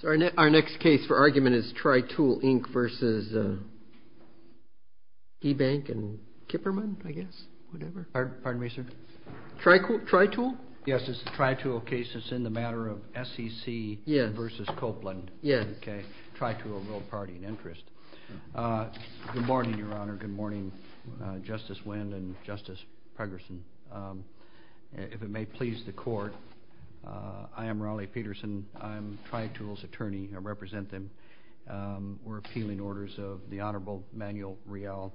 So our next case for argument is Tritool Inc. versus E-Bank and Kipperman, I guess, whatever. Pardon me, sir? Tritool? Yes, it's the Tritool case. It's in the matter of SEC versus Copeland. Yes. Okay. Tritool will party in interest. Good morning, Your Honor. Good morning, Justice Wendt and Justice Pegerson. If it may please the Court, I am Raleigh Peterson. I'm Tritool's attorney. I represent them. We're appealing orders of the Honorable Manuel Real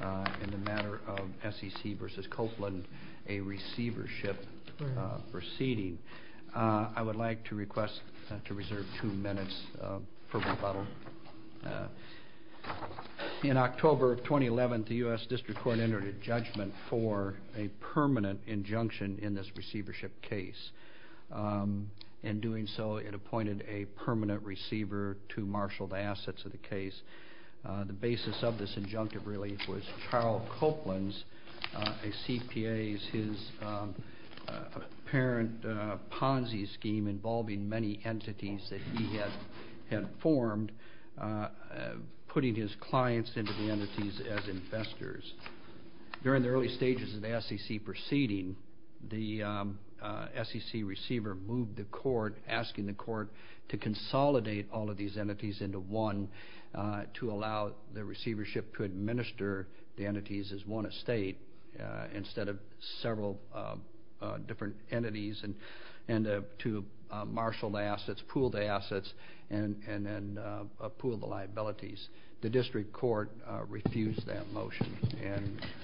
in the matter of SEC versus Copeland, a receivership proceeding. I would like to request to reserve two minutes for rebuttal. In October of 2011, the U.S. District Court entered a judgment for a permanent injunction in this receivership case. In doing so, it appointed a permanent receiver to marshal the assets of the case. The basis of this injunctive, really, was Charles Copeland's, a CPA's, his apparent Ponzi scheme involving many entities that he had formed, putting his clients into the entities as investors. During the early stages of the SEC proceeding, the SEC receiver moved the court, to consolidate all of these entities into one to allow the receivership to administer the entities as one estate, instead of several different entities, and to marshal the assets, pool the assets, and then pool the liabilities. The District Court refused that motion.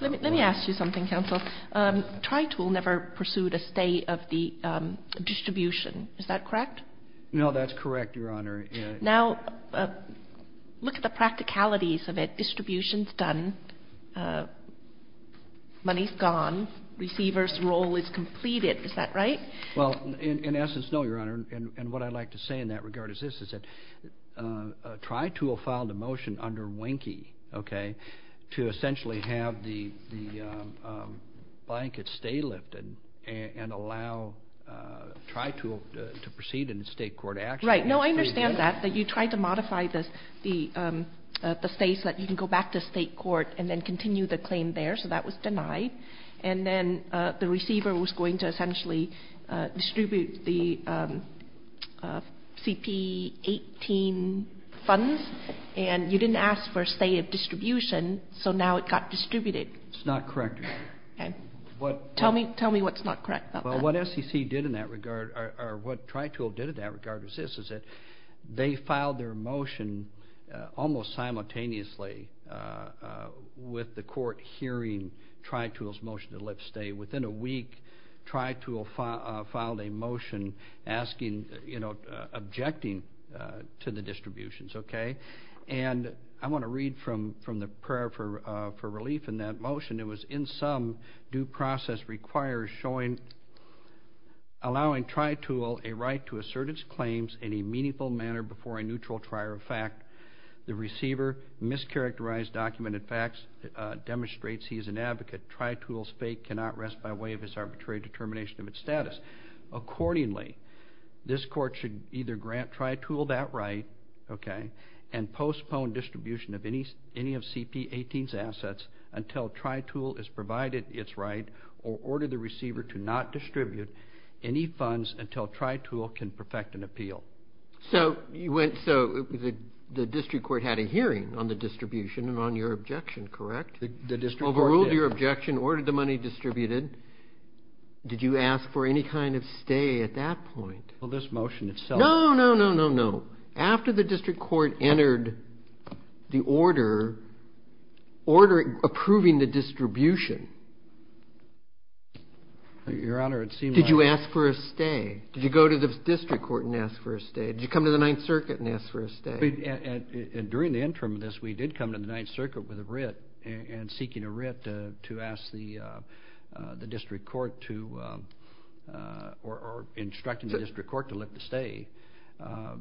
Let me ask you something, Counsel. Tritool never pursued a stay of the distribution. Is that correct? No, that's correct, Your Honor. Now, look at the practicalities of it. Distribution's done. Money's gone. Receiver's role is completed. Is that right? Well, in essence, no, Your Honor. And what I'd like to say in that regard is this, is that Tritool filed a motion under Winkie, okay, to essentially have the blankets stay lifted and allow Tritool to proceed in state court action. Right. No, I understand that, that you tried to modify the stay so that you can go back to state court and then continue the claim there, so that was denied. And then the receiver was going to essentially distribute the CP18 funds, and you didn't ask for a stay of distribution, so now it got distributed. That's not correct, Your Honor. Tell me what's not correct about that. Well, what SEC did in that regard, or what Tritool did in that regard, is this, is that they filed their motion almost simultaneously with the court hearing Tritool's motion to lift stay. Within a week, Tritool filed a motion asking, you know, objecting to the distributions, okay? And I want to read from the prayer for relief in that motion. It was, in sum, due process requires showing, allowing Tritool a right to assert its claims in a meaningful manner before a neutral trier of fact. The receiver mischaracterized documented facts, demonstrates he is an advocate. Tritool's fate cannot rest by way of its arbitrary determination of its status. Accordingly, this court should either grant Tritool that right, okay, and postpone distribution of any of CP18's assets until Tritool has provided its right or ordered the receiver to not distribute any funds until Tritool can perfect an appeal. So the district court had a hearing on the distribution and on your objection, correct? The district court did. Overruled your objection, ordered the money distributed. Did you ask for any kind of stay at that point? Well, this motion itself. No, no, no, no, no. After the district court entered the order approving the distribution, did you ask for a stay? Did you go to the district court and ask for a stay? Did you come to the Ninth Circuit and ask for a stay? During the interim of this, we did come to the Ninth Circuit with a writ and seeking a writ to ask the district court to or instructing the district court to let the stay. I'm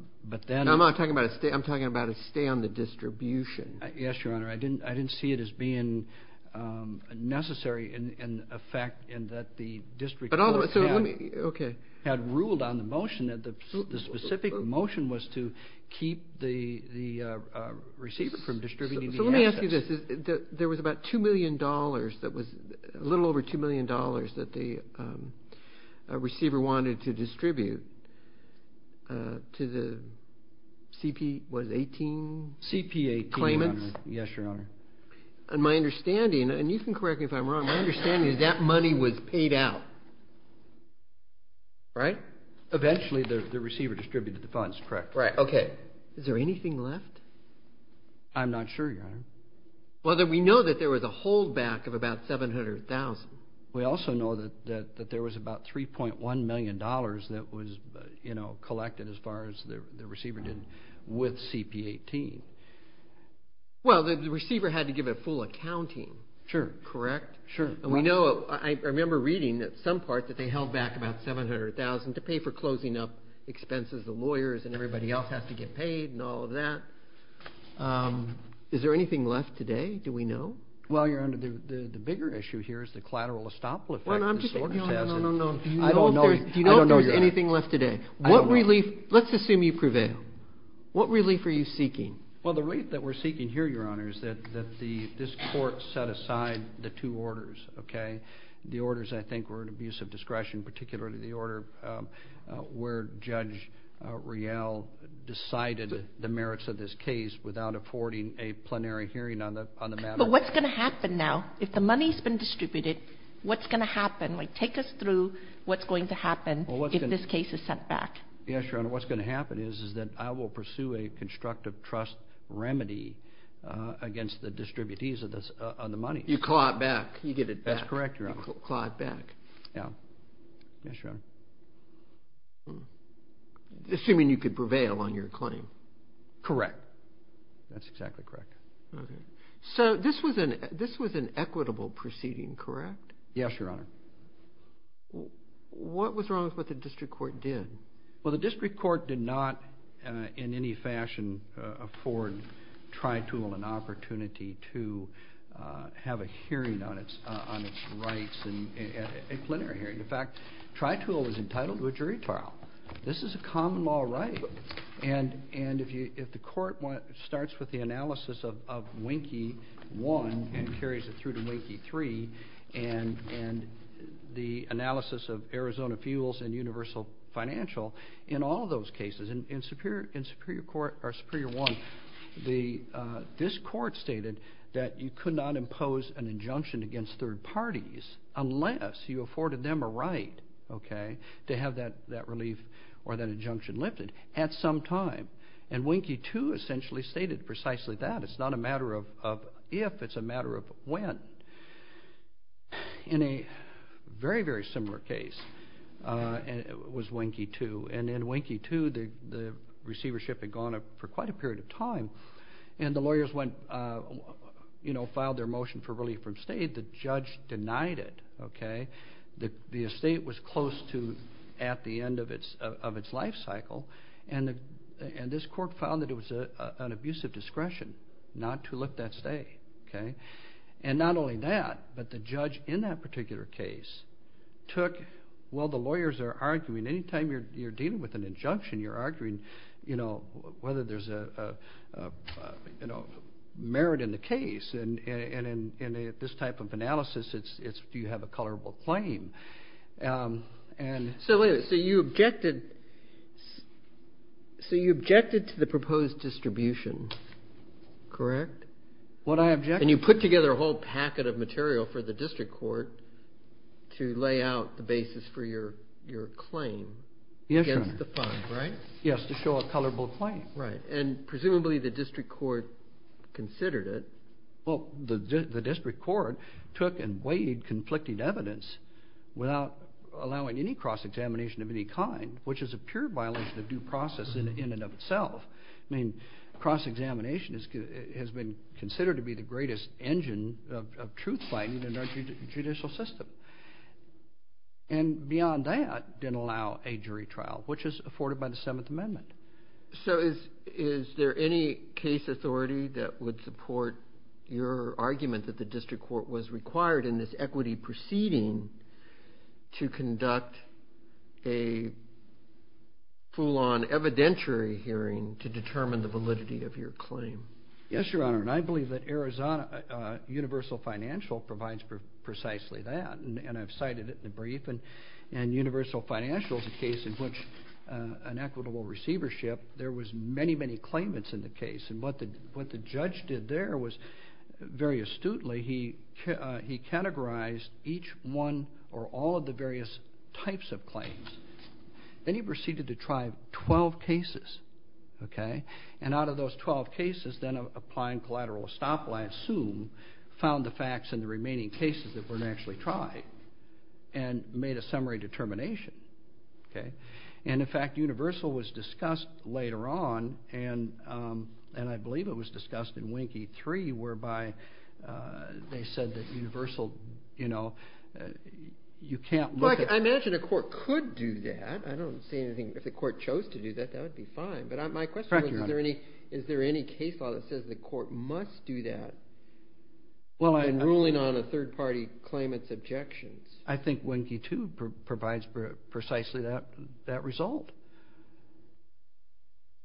not talking about a stay. I'm talking about a stay on the distribution. Yes, Your Honor. I didn't see it as being necessary in effect in that the district court had ruled on the motion. The specific motion was to keep the receiver from distributing the assets. So let me ask you this. There was about $2 million that was a little over $2 million that the receiver wanted to distribute to the CP18 claimants. CP18, Your Honor. Yes, Your Honor. And my understanding, and you can correct me if I'm wrong, my understanding is that money was paid out, right? Eventually, the receiver distributed the funds, correct? Right. Okay. Is there anything left? I'm not sure, Your Honor. Well, we know that there was a hold back of about $700,000. We also know that there was about $3.1 million that was collected as far as the receiver did with CP18. Well, the receiver had to give a full accounting. Sure. Correct? Sure. And we know, I remember reading at some part that they held back about $700,000 to pay for closing up expenses. The lawyers and everybody else has to get paid and all of that. Is there anything left today? Do we know? Well, Your Honor, the bigger issue here is the collateral estoppel effect. Well, I'm just saying. No, no, no, no, no. I don't know. Do you know if there's anything left today? What relief, let's assume you prevail. What relief are you seeking? Well, the relief that we're seeking here, Your Honor, is that this court set aside the two orders, okay? The orders, I think, were an abuse of discretion, particularly the order where Judge Riel decided the merits of this case without affording a plenary hearing on the matter. But what's going to happen now? If the money's been distributed, what's going to happen? Like, take us through what's going to happen if this case is sent back. Yes, Your Honor. What's going to happen is that I will pursue a constructive trust remedy against the distributees of the money. You claw it back. You get it back. That's correct, Your Honor. You claw it back. Yeah. Yes, Your Honor. Assuming you could prevail on your claim. Correct. That's exactly correct. Okay. So this was an equitable proceeding, correct? Yes, Your Honor. What was wrong with what the district court did? Well, the district court did not in any fashion afford TriTool an opportunity to have a hearing on its rights, a plenary hearing. In fact, TriTool is entitled to a jury trial. This is a common law right. And if the court starts with the analysis of Winkie I and carries it through to Winkie III and the analysis of Arizona Fuels and Universal Financial, in all those cases, in Superior Court or Superior I, this court stated that you could not impose an injunction against third parties unless you afforded them a right, okay, to have that relief or that injunction lifted at some time. And Winkie II essentially stated precisely that. It's not a matter of if. It's a matter of when. In a very, very similar case was Winkie II. And in Winkie II, the receivership had gone up for quite a period of time. And the lawyers went, you know, filed their motion for relief from state. The judge denied it, okay. The estate was close to at the end of its life cycle. And this court found that it was an abuse of discretion not to lift that stay, okay. And not only that, but the judge in that particular case took, well, the lawyers are arguing, anytime you're dealing with an injunction, you're arguing, you know, whether there's a, you know, merit in the case. And in this type of analysis, it's do you have a colorable claim. And so you objected. So you objected to the proposed distribution, correct? What I objected to. And you put together a whole packet of material for the district court to lay out the basis for your claim against the fund, right? Yes, to show a colorable claim. Right. And presumably the district court considered it. Well, the district court took and weighed conflicting evidence without allowing any cross-examination of any kind, which is a pure violation of due process in and of itself. I mean, cross-examination has been considered to be the greatest engine of truth-finding in our judicial system. And beyond that, didn't allow a jury trial, which is afforded by the Seventh Amendment. So is there any case authority that would support your argument that the district court was required in this equity proceeding to conduct a full-on evidentiary hearing to determine the validity of your claim? Yes, Your Honor. And I believe that Arizona Universal Financial provides precisely that. And I've cited it in the brief. And Universal Financial is a case in which an equitable receivership, there was many, many claimants in the case. And what the judge did there was very astutely, he categorized each one or all of the various types of claims. Then he proceeded to try 12 cases, okay? And out of those 12 cases, then applying collateral estoppel, I assume, found the facts in the remaining cases that weren't actually tried and made a summary determination, okay? And, in fact, Universal was discussed later on, and I believe it was discussed in Winkie III, whereby they said that Universal, you know, you can't look at it. Well, I imagine a court could do that. I don't see anything. If the court chose to do that, that would be fine. But my question is, is there any case law that says the court must do that in ruling on a third-party claimant's objections? I think Winkie II provides precisely that result.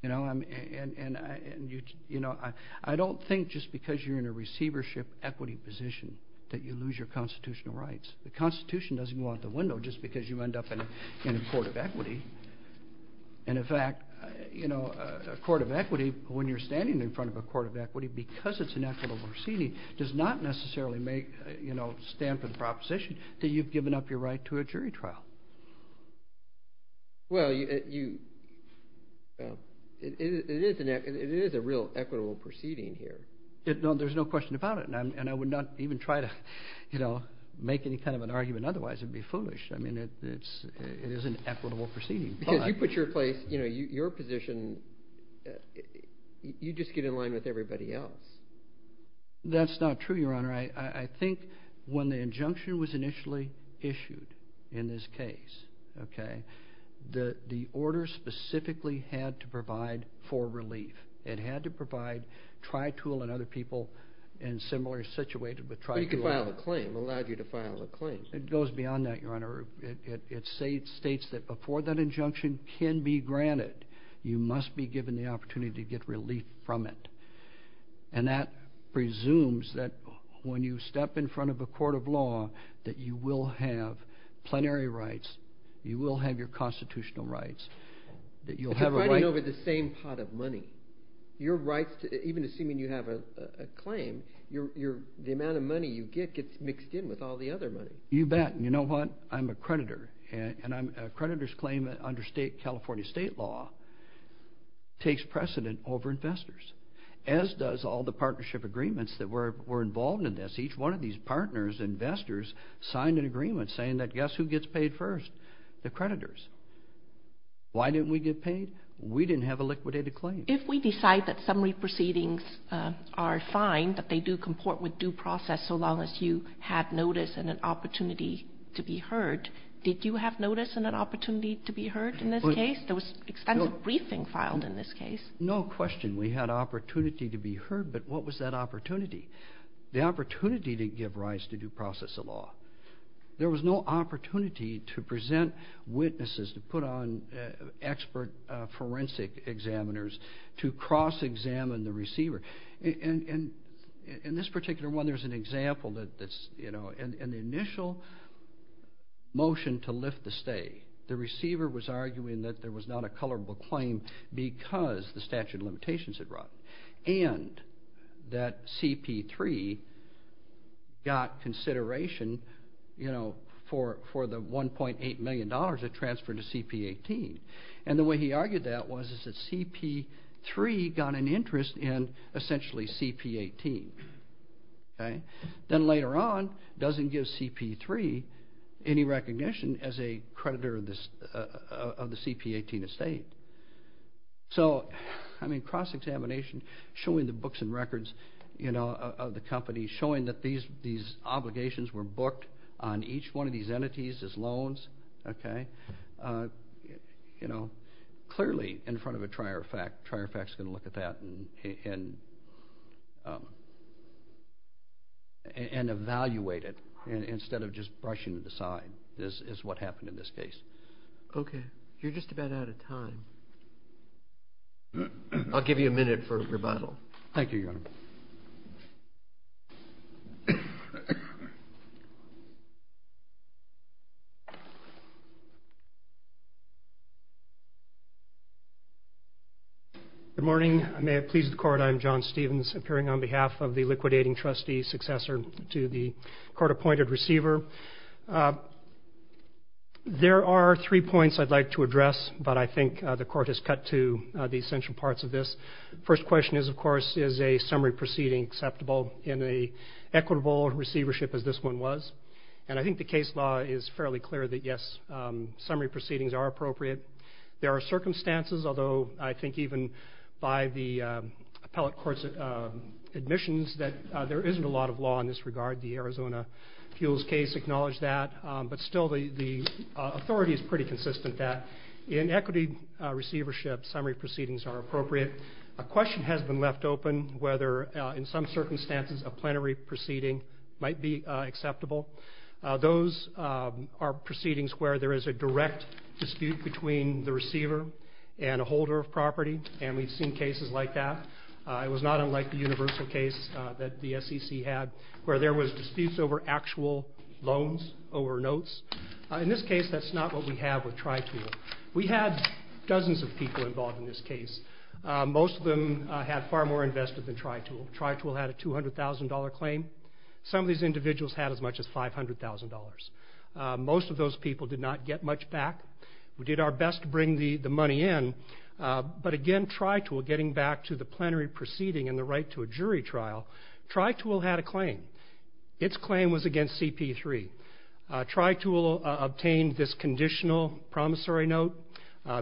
You know, I don't think just because you're in a receivership equity position that you lose your constitutional rights. The Constitution doesn't go out the window just because you end up in a court of equity. And, in fact, you know, a court of equity, when you're standing in front of a court of equity, because it's an equitable proceeding, does not necessarily make, you know, stand for the proposition that you've given up your right to a jury trial. Well, it is a real equitable proceeding here. There's no question about it, and I would not even try to, you know, make any kind of an argument otherwise. It would be foolish. I mean, it is an equitable proceeding. Because you put your place, you know, your position, you just get in line with everybody else. That's not true, Your Honor. I think when the injunction was initially issued in this case, okay, the order specifically had to provide for relief. It had to provide tri-tool and other people in similar situations with tri-tool. But you could file a claim. It allowed you to file a claim. It goes beyond that, Your Honor. It states that before that injunction can be granted, you must be given the opportunity to get relief from it. And that presumes that when you step in front of a court of law, that you will have plenary rights, you will have your constitutional rights, that you'll have a right. Even assuming you have a claim, the amount of money you get gets mixed in with all the other money. You bet. You know what? I'm a creditor, and a creditor's claim under California state law takes precedent over investors, as does all the partnership agreements that were involved in this. Each one of these partners, investors, signed an agreement saying that guess who gets paid first? The creditors. Why didn't we get paid? We didn't have a liquidated claim. If we decide that summary proceedings are fine, that they do comport with due process so long as you have notice and an opportunity to be heard, did you have notice and an opportunity to be heard in this case? There was extensive briefing filed in this case. No question. We had opportunity to be heard, but what was that opportunity? The opportunity to give rise to due process of law. There was no opportunity to present witnesses, to put on expert forensic examiners, to cross-examine the receiver. In this particular one, there's an example that's, you know, in the initial motion to lift the stay, the receiver was arguing that there was not a colorable claim because the statute of limitations had run, and that CP3 got consideration, you know, for the $1.8 million that transferred to CP18. And the way he argued that was that CP3 got an interest in essentially CP18. Then later on, doesn't give CP3 any recognition as a creditor of the CP18 estate. So, I mean, cross-examination, showing the books and records, you know, of the company, showing that these obligations were booked on each one of these entities as loans, okay, you know, clearly in front of a trier of fact, trier of fact's going to look at that and evaluate it instead of just brushing it aside is what happened in this case. Okay. You're just about out of time. I'll give you a minute for rebuttal. Thank you, Your Honor. Good morning. I may have pleased the court. I'm John Stevens, appearing on behalf of the liquidating trustee successor to the court-appointed receiver. There are three points I'd like to address, but I think the court has cut to the essential parts of this. First question is, of course, is a summary proceeding acceptable in an equitable receivership as this one was? And I think the case law is fairly clear that, yes, summary proceedings are appropriate. There are circumstances, although I think even by the appellate court's admissions, that there isn't a lot of law in this regard. The Arizona Fuels case acknowledged that, but still the authority is pretty consistent that in equity receivership, summary proceedings are appropriate. A question has been left open whether in some circumstances a plenary proceeding might be acceptable. Those are proceedings where there is a direct dispute between the receiver and a holder of property, and we've seen cases like that. It was not unlike the universal case that the SEC had where there was disputes over actual loans, over notes. In this case, that's not what we have with TriTool. We had dozens of people involved in this case. Most of them had far more invested than TriTool. TriTool had a $200,000 claim. Some of these individuals had as much as $500,000. Most of those people did not get much back. We did our best to bring the money in, but again, TriTool, getting back to the plenary proceeding and the right to a jury trial, TriTool had a claim. Its claim was against CP3. TriTool obtained this conditional promissory note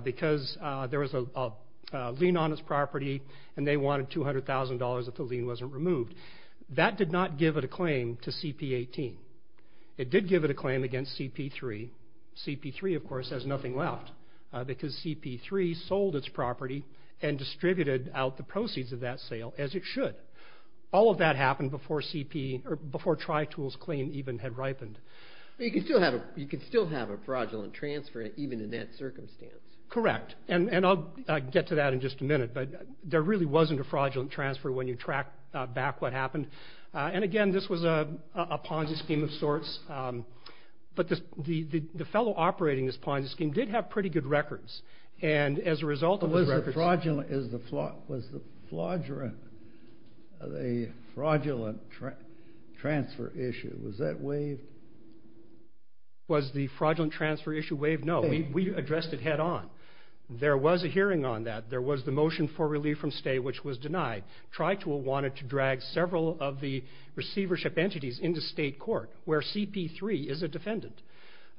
because there was a lien on its property and they wanted $200,000 if the lien wasn't removed. That did not give it a claim to CP18. It did give it a claim against CP3. CP3, of course, has nothing left because CP3 sold its property and distributed out the proceeds of that sale as it should. All of that happened before TriTool's claim even had ripened. You can still have a fraudulent transfer even in that circumstance. Correct, and I'll get to that in just a minute, but there really wasn't a fraudulent transfer when you track back what happened. Again, this was a Ponzi scheme of sorts. But the fellow operating this Ponzi scheme did have pretty good records, and as a result of those records- Was the fraudulent transfer issue, was that waived? Was the fraudulent transfer issue waived? No, we addressed it head on. There was a hearing on that. There was the motion for relief from stay, which was denied. TriTool wanted to drag several of the receivership entities into state court where CP3 is a defendant.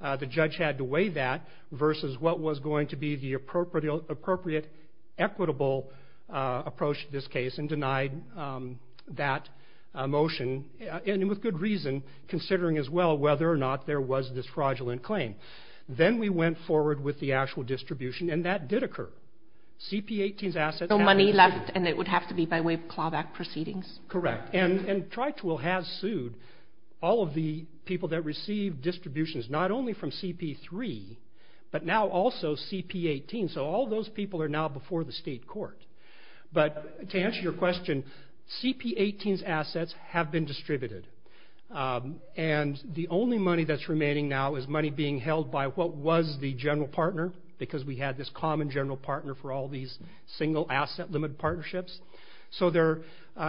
The judge had to weigh that versus what was going to be the appropriate equitable approach to this case and denied that motion, and with good reason, considering as well whether or not there was this fraudulent claim. Then we went forward with the actual distribution, and that did occur. CP18's assets- No money left, and it would have to be by way of clawback proceedings? Correct. And TriTool has sued all of the people that received distributions, not only from CP3, but now also CP18, so all those people are now before the state court. But to answer your question, CP18's assets have been distributed, and the only money that's remaining now is money being held by what was the general partner, because we had this common general partner for all these single asset limit partnerships. So there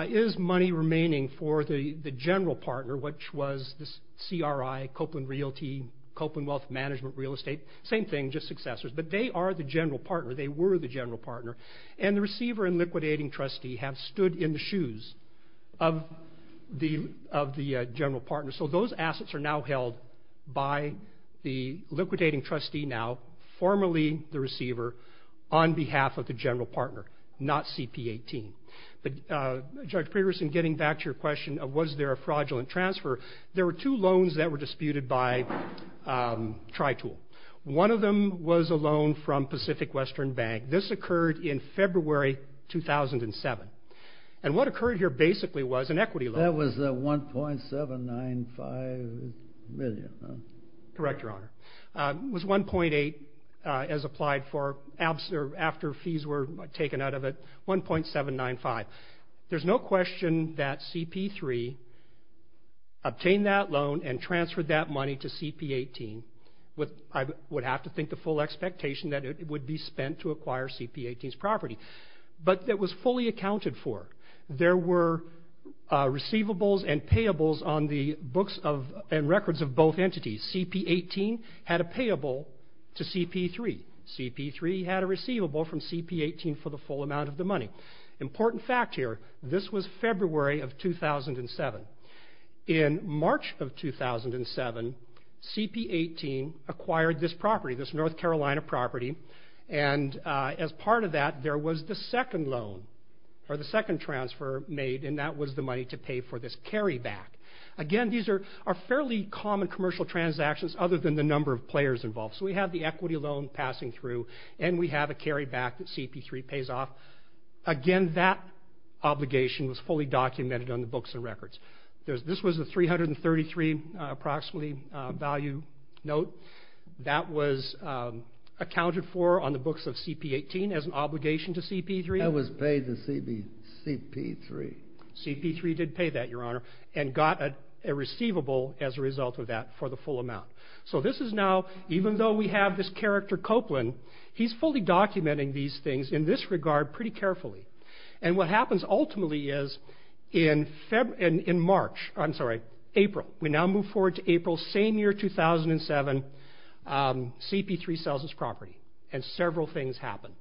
is money remaining for the general partner, which was this CRI, Copeland Realty, Copeland Wealth Management Real Estate. Same thing, just successors. But they are the general partner. They were the general partner, and the receiver and liquidating trustee have stood in the shoes of the general partner. So those assets are now held by the liquidating trustee now, formerly the receiver, on behalf of the general partner, not CP18. But, Judge Peterson, getting back to your question of was there a fraudulent transfer, there were two loans that were disputed by TriTool. One of them was a loan from Pacific Western Bank. This occurred in February 2007. And what occurred here basically was an equity loan. That was the $1.795 million, huh? Correct, Your Honor. It was $1.8 as applied for after fees were taken out of it, $1.795. There's no question that CP3 obtained that loan and transferred that money to CP18. I would have to think the full expectation that it would be spent to acquire CP18's property. But it was fully accounted for. There were receivables and payables on the books and records of both entities. CP18 had a payable to CP3. CP3 had a receivable from CP18 for the full amount of the money. Important fact here, this was February of 2007. In March of 2007, CP18 acquired this property, this North Carolina property. And as part of that, there was the second loan or the second transfer made, and that was the money to pay for this carryback. Again, these are fairly common commercial transactions other than the number of players involved. So we have the equity loan passing through, and we have a carryback that CP3 pays off. Again, that obligation was fully documented on the books and records. This was a $333 approximately value note. That was accounted for on the books of CP18 as an obligation to CP3. That was paid to CP3. CP3 did pay that, Your Honor, and got a receivable as a result of that for the full amount. So this is now, even though we have this character Copeland, he's fully documenting these things in this regard pretty carefully. And what happens ultimately is in March, I'm sorry, April, we now move forward to April, same year, 2007, CP3 sells this property, and several things happen.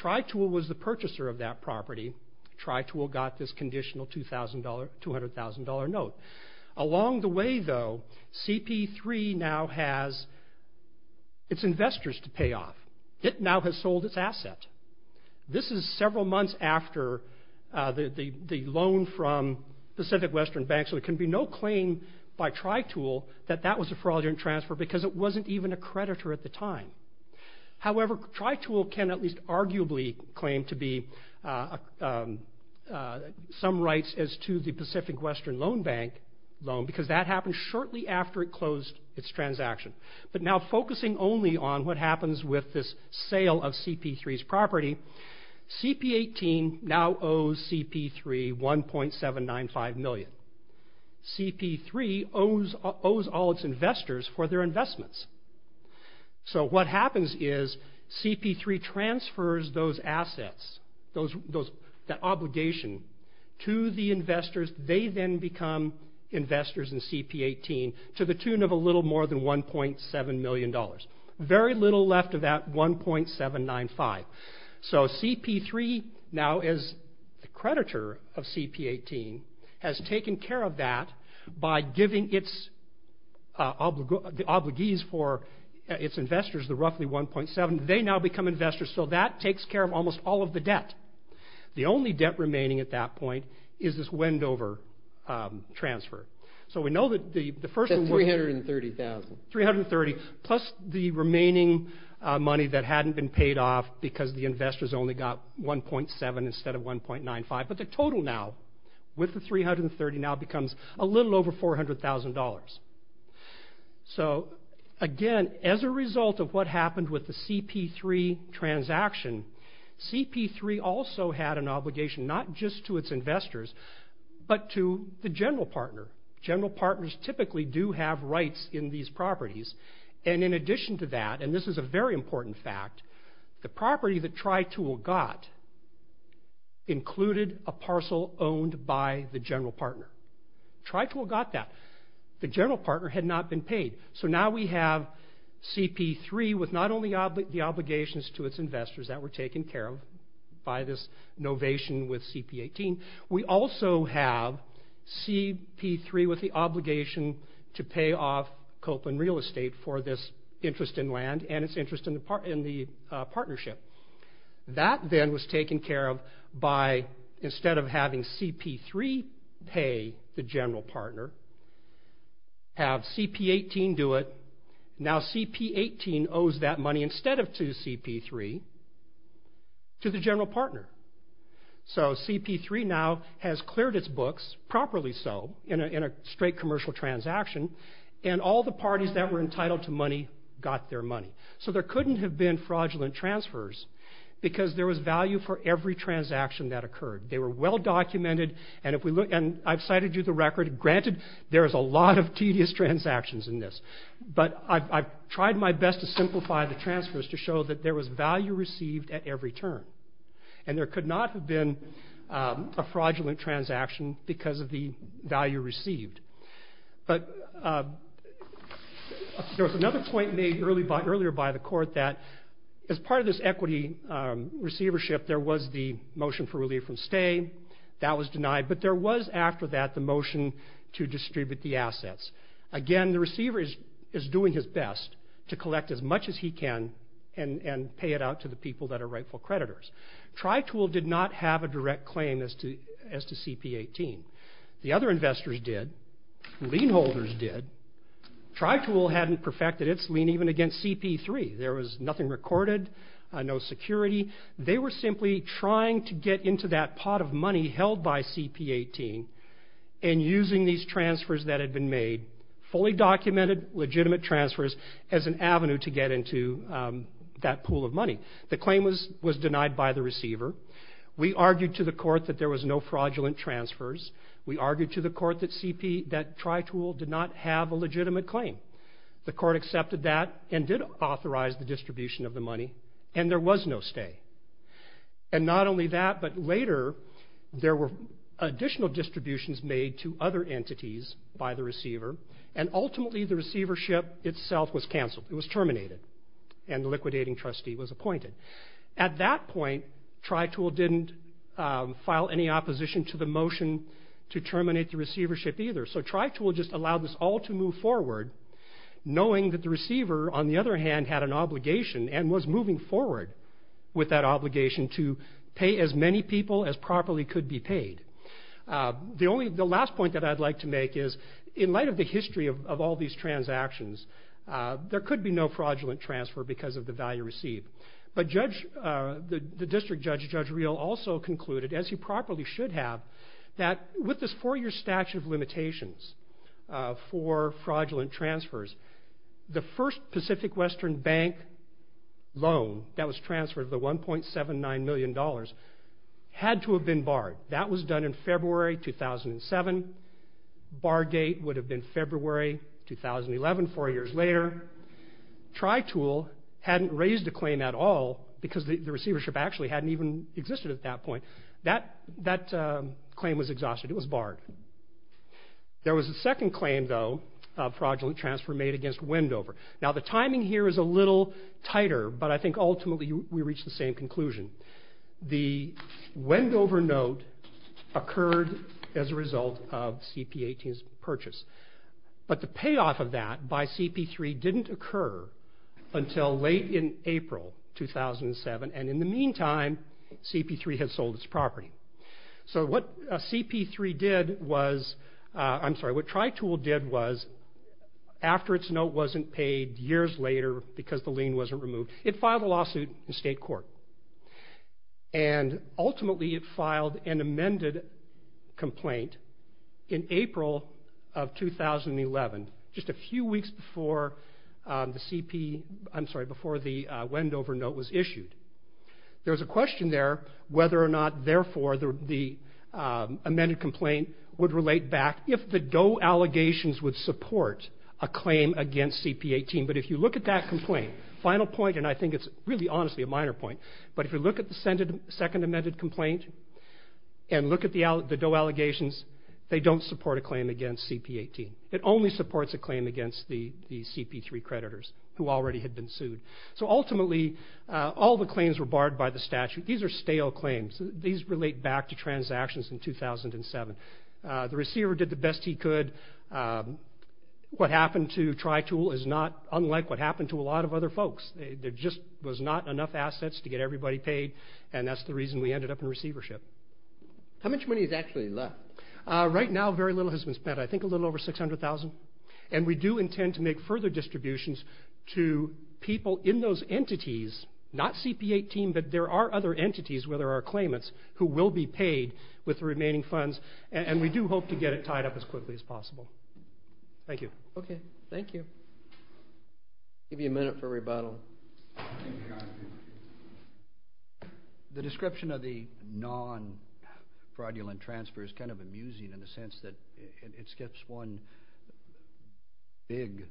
TriTool was the purchaser of that property. TriTool got this conditional $200,000 note. Along the way, though, CP3 now has its investors to pay off. It now has sold its asset. This is several months after the loan from Pacific Western Bank, so it can be no claim by TriTool that that was a fraudulent transfer because it wasn't even a creditor at the time. However, TriTool can at least arguably claim to be some rights as to the Pacific Western Loan Bank loan because that happened shortly after it closed its transaction. But now focusing only on what happens with this sale of CP3's property, CP18 now owes CP3 $1.795 million. CP3 owes all its investors for their investments. So what happens is CP3 transfers those assets, that obligation to the investors. They then become investors in CP18 to the tune of a little more than $1.7 million. Very little left of that $1.795. So CP3 now is the creditor of CP18, has taken care of that by giving its obligees for its investors the roughly $1.7. They now become investors, so that takes care of almost all of the debt. The only debt remaining at that point is this Wendover transfer. So we know that the first one was... That's $330,000. $330,000 plus the remaining money that hadn't been paid off because the investors only got $1.7 instead of $1.95. But the total now with the $330,000 now becomes a little over $400,000. So again, as a result of what happened with the CP3 transaction, CP3 also had an obligation not just to its investors but to the general partner. General partners typically do have rights in these properties. And in addition to that, and this is a very important fact, the property that TriTool got included a parcel owned by the general partner. TriTool got that. The general partner had not been paid. So now we have CP3 with not only the obligations to its investors that were taken care of by this novation with CP18, we also have CP3 with the obligation to pay off Copeland Real Estate for this interest in land and its interest in the partnership. That then was taken care of by instead of having CP3 pay the general partner, have CP18 do it. Now CP18 owes that money instead of to CP3 to the general partner. So CP3 now has cleared its books, properly so, in a straight commercial transaction, and all the parties that were entitled to money got their money. So there couldn't have been fraudulent transfers because there was value for every transaction that occurred. They were well documented, and I've cited you the record. Granted, there is a lot of tedious transactions in this, but I've tried my best to simplify the transfers to show that there was value received at every turn. And there could not have been a fraudulent transaction because of the value received. But there was another point made earlier by the court that as part of this equity receivership, there was the motion for relief from stay, that was denied, but there was after that the motion to distribute the assets. Again, the receiver is doing his best to collect as much as he can and pay it out to the people that are rightful creditors. Tritool did not have a direct claim as to CP18. The other investors did. The lien holders did. Tritool hadn't perfected its lien even against CP3. There was nothing recorded, no security. They were simply trying to get into that pot of money held by CP18 and using these transfers that had been made, fully documented, legitimate transfers, as an avenue to get into that pool of money. The claim was denied by the receiver. We argued to the court that there was no fraudulent transfers. We argued to the court that Tritool did not have a legitimate claim. The court accepted that and did authorize the distribution of the money, and there was no stay. And not only that, but later, there were additional distributions made to other entities by the receiver, and ultimately the receivership itself was canceled. It was terminated, and the liquidating trustee was appointed. At that point, Tritool didn't file any opposition to the motion to terminate the receivership either. So Tritool just allowed this all to move forward, knowing that the receiver, on the other hand, had an obligation and was moving forward with that obligation to pay as many people as properly could be paid. The last point that I'd like to make is, in light of the history of all these transactions, there could be no fraudulent transfer because of the value received. But the district judge, Judge Reel, also concluded, as he properly should have, that with this four-year statute of limitations for fraudulent transfers, the first Pacific Western Bank loan that was transferred, the $1.79 million, had to have been barred. That was done in February 2007. Bargate would have been February 2011, four years later. Tritool hadn't raised a claim at all because the receivership actually hadn't even existed at that point. That claim was exhausted. It was barred. There was a second claim, though, of fraudulent transfer made against Wendover. Now, the timing here is a little tighter, but I think ultimately we reach the same conclusion. The Wendover note occurred as a result of CP18's purchase. But the payoff of that by CP3 didn't occur until late in April 2007. And in the meantime, CP3 had sold its property. So what CP3 did was... I'm sorry, what Tritool did was, after its note wasn't paid years later because the lien wasn't removed, it filed a lawsuit in state court. And ultimately it filed an amended complaint in April of 2011, just a few weeks before the CP... I'm sorry, before the Wendover note was issued. There was a question there whether or not, therefore, the amended complaint would relate back if the Doe allegations would support a claim against CP18. But if you look at that complaint, final point, and I think it's really honestly a minor point, but if you look at the second amended complaint and look at the Doe allegations, they don't support a claim against CP18. It only supports a claim against the CP3 creditors, who already had been sued. So ultimately, all the claims were barred by the statute. These are stale claims. These relate back to transactions in 2007. The receiver did the best he could. What happened to Tritool is not unlike what happened to a lot of other folks. There just was not enough assets to get everybody paid, and that's the reason we ended up in receivership. How much money is actually left? Right now, very little has been spent. I think a little over $600,000, and we do intend to make further distributions to people in those entities, not CP18, but there are other entities where there are claimants who will be paid with the remaining funds, and we do hope to get it tied up as quickly as possible. Thank you. Okay, thank you. I'll give you a minute for rebuttal. The description of the non-fraudulent transfer is kind of amusing in the sense that it skips one big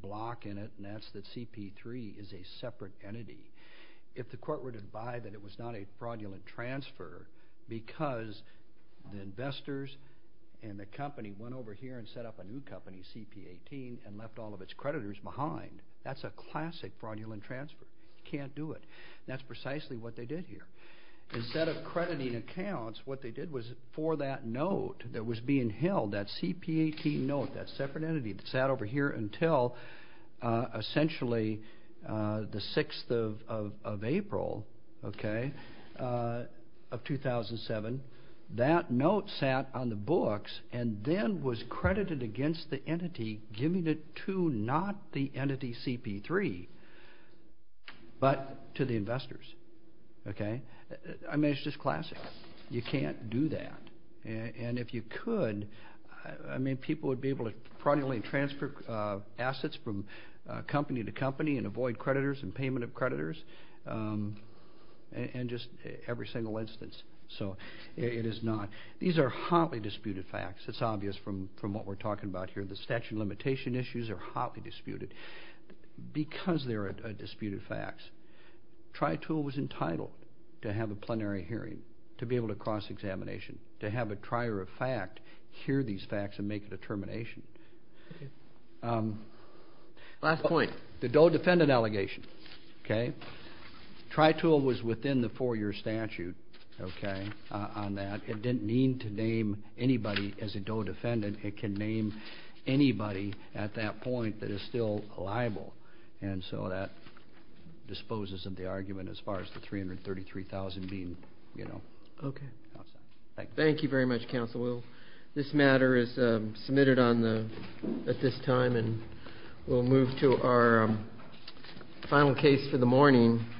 block in it, and that's that CP3 is a separate entity. If the court were to buy that it was not a fraudulent transfer because the investors and the company went over here and set up a new company, CP18, and left all of its creditors behind. That's a classic fraudulent transfer. You can't do it. That's precisely what they did here. Instead of crediting accounts, what they did was for that note that was being held, that CP18 note, that separate entity that sat over here until essentially the 6th of April of 2007, that note sat on the books and then was credited against the entity giving it to not the entity CP3, but to the investors. Okay? I mean, it's just classic. You can't do that, and if you could, I mean, people would be able to fraudulently transfer assets from company to company and avoid creditors and payment of creditors in just every single instance. So it is not. These are hotly disputed facts. It's obvious from what we're talking about here. The statute of limitation issues are hotly disputed because they're disputed facts. TriTool was entitled to have a plenary hearing, to be able to cross-examination, to have a trier of fact hear these facts and make a determination. Last point. The Doe defendant allegation, okay? TriTool was within the 4-year statute, okay, on that. It didn't mean to name anybody as a Doe defendant. It can name anybody at that point that is still liable, and so that disposes of the argument as far as the $333,000 being, you know. Okay. Thank you very much, Counsel Will. This matter is submitted at this time, and we'll move to our final case for the morning.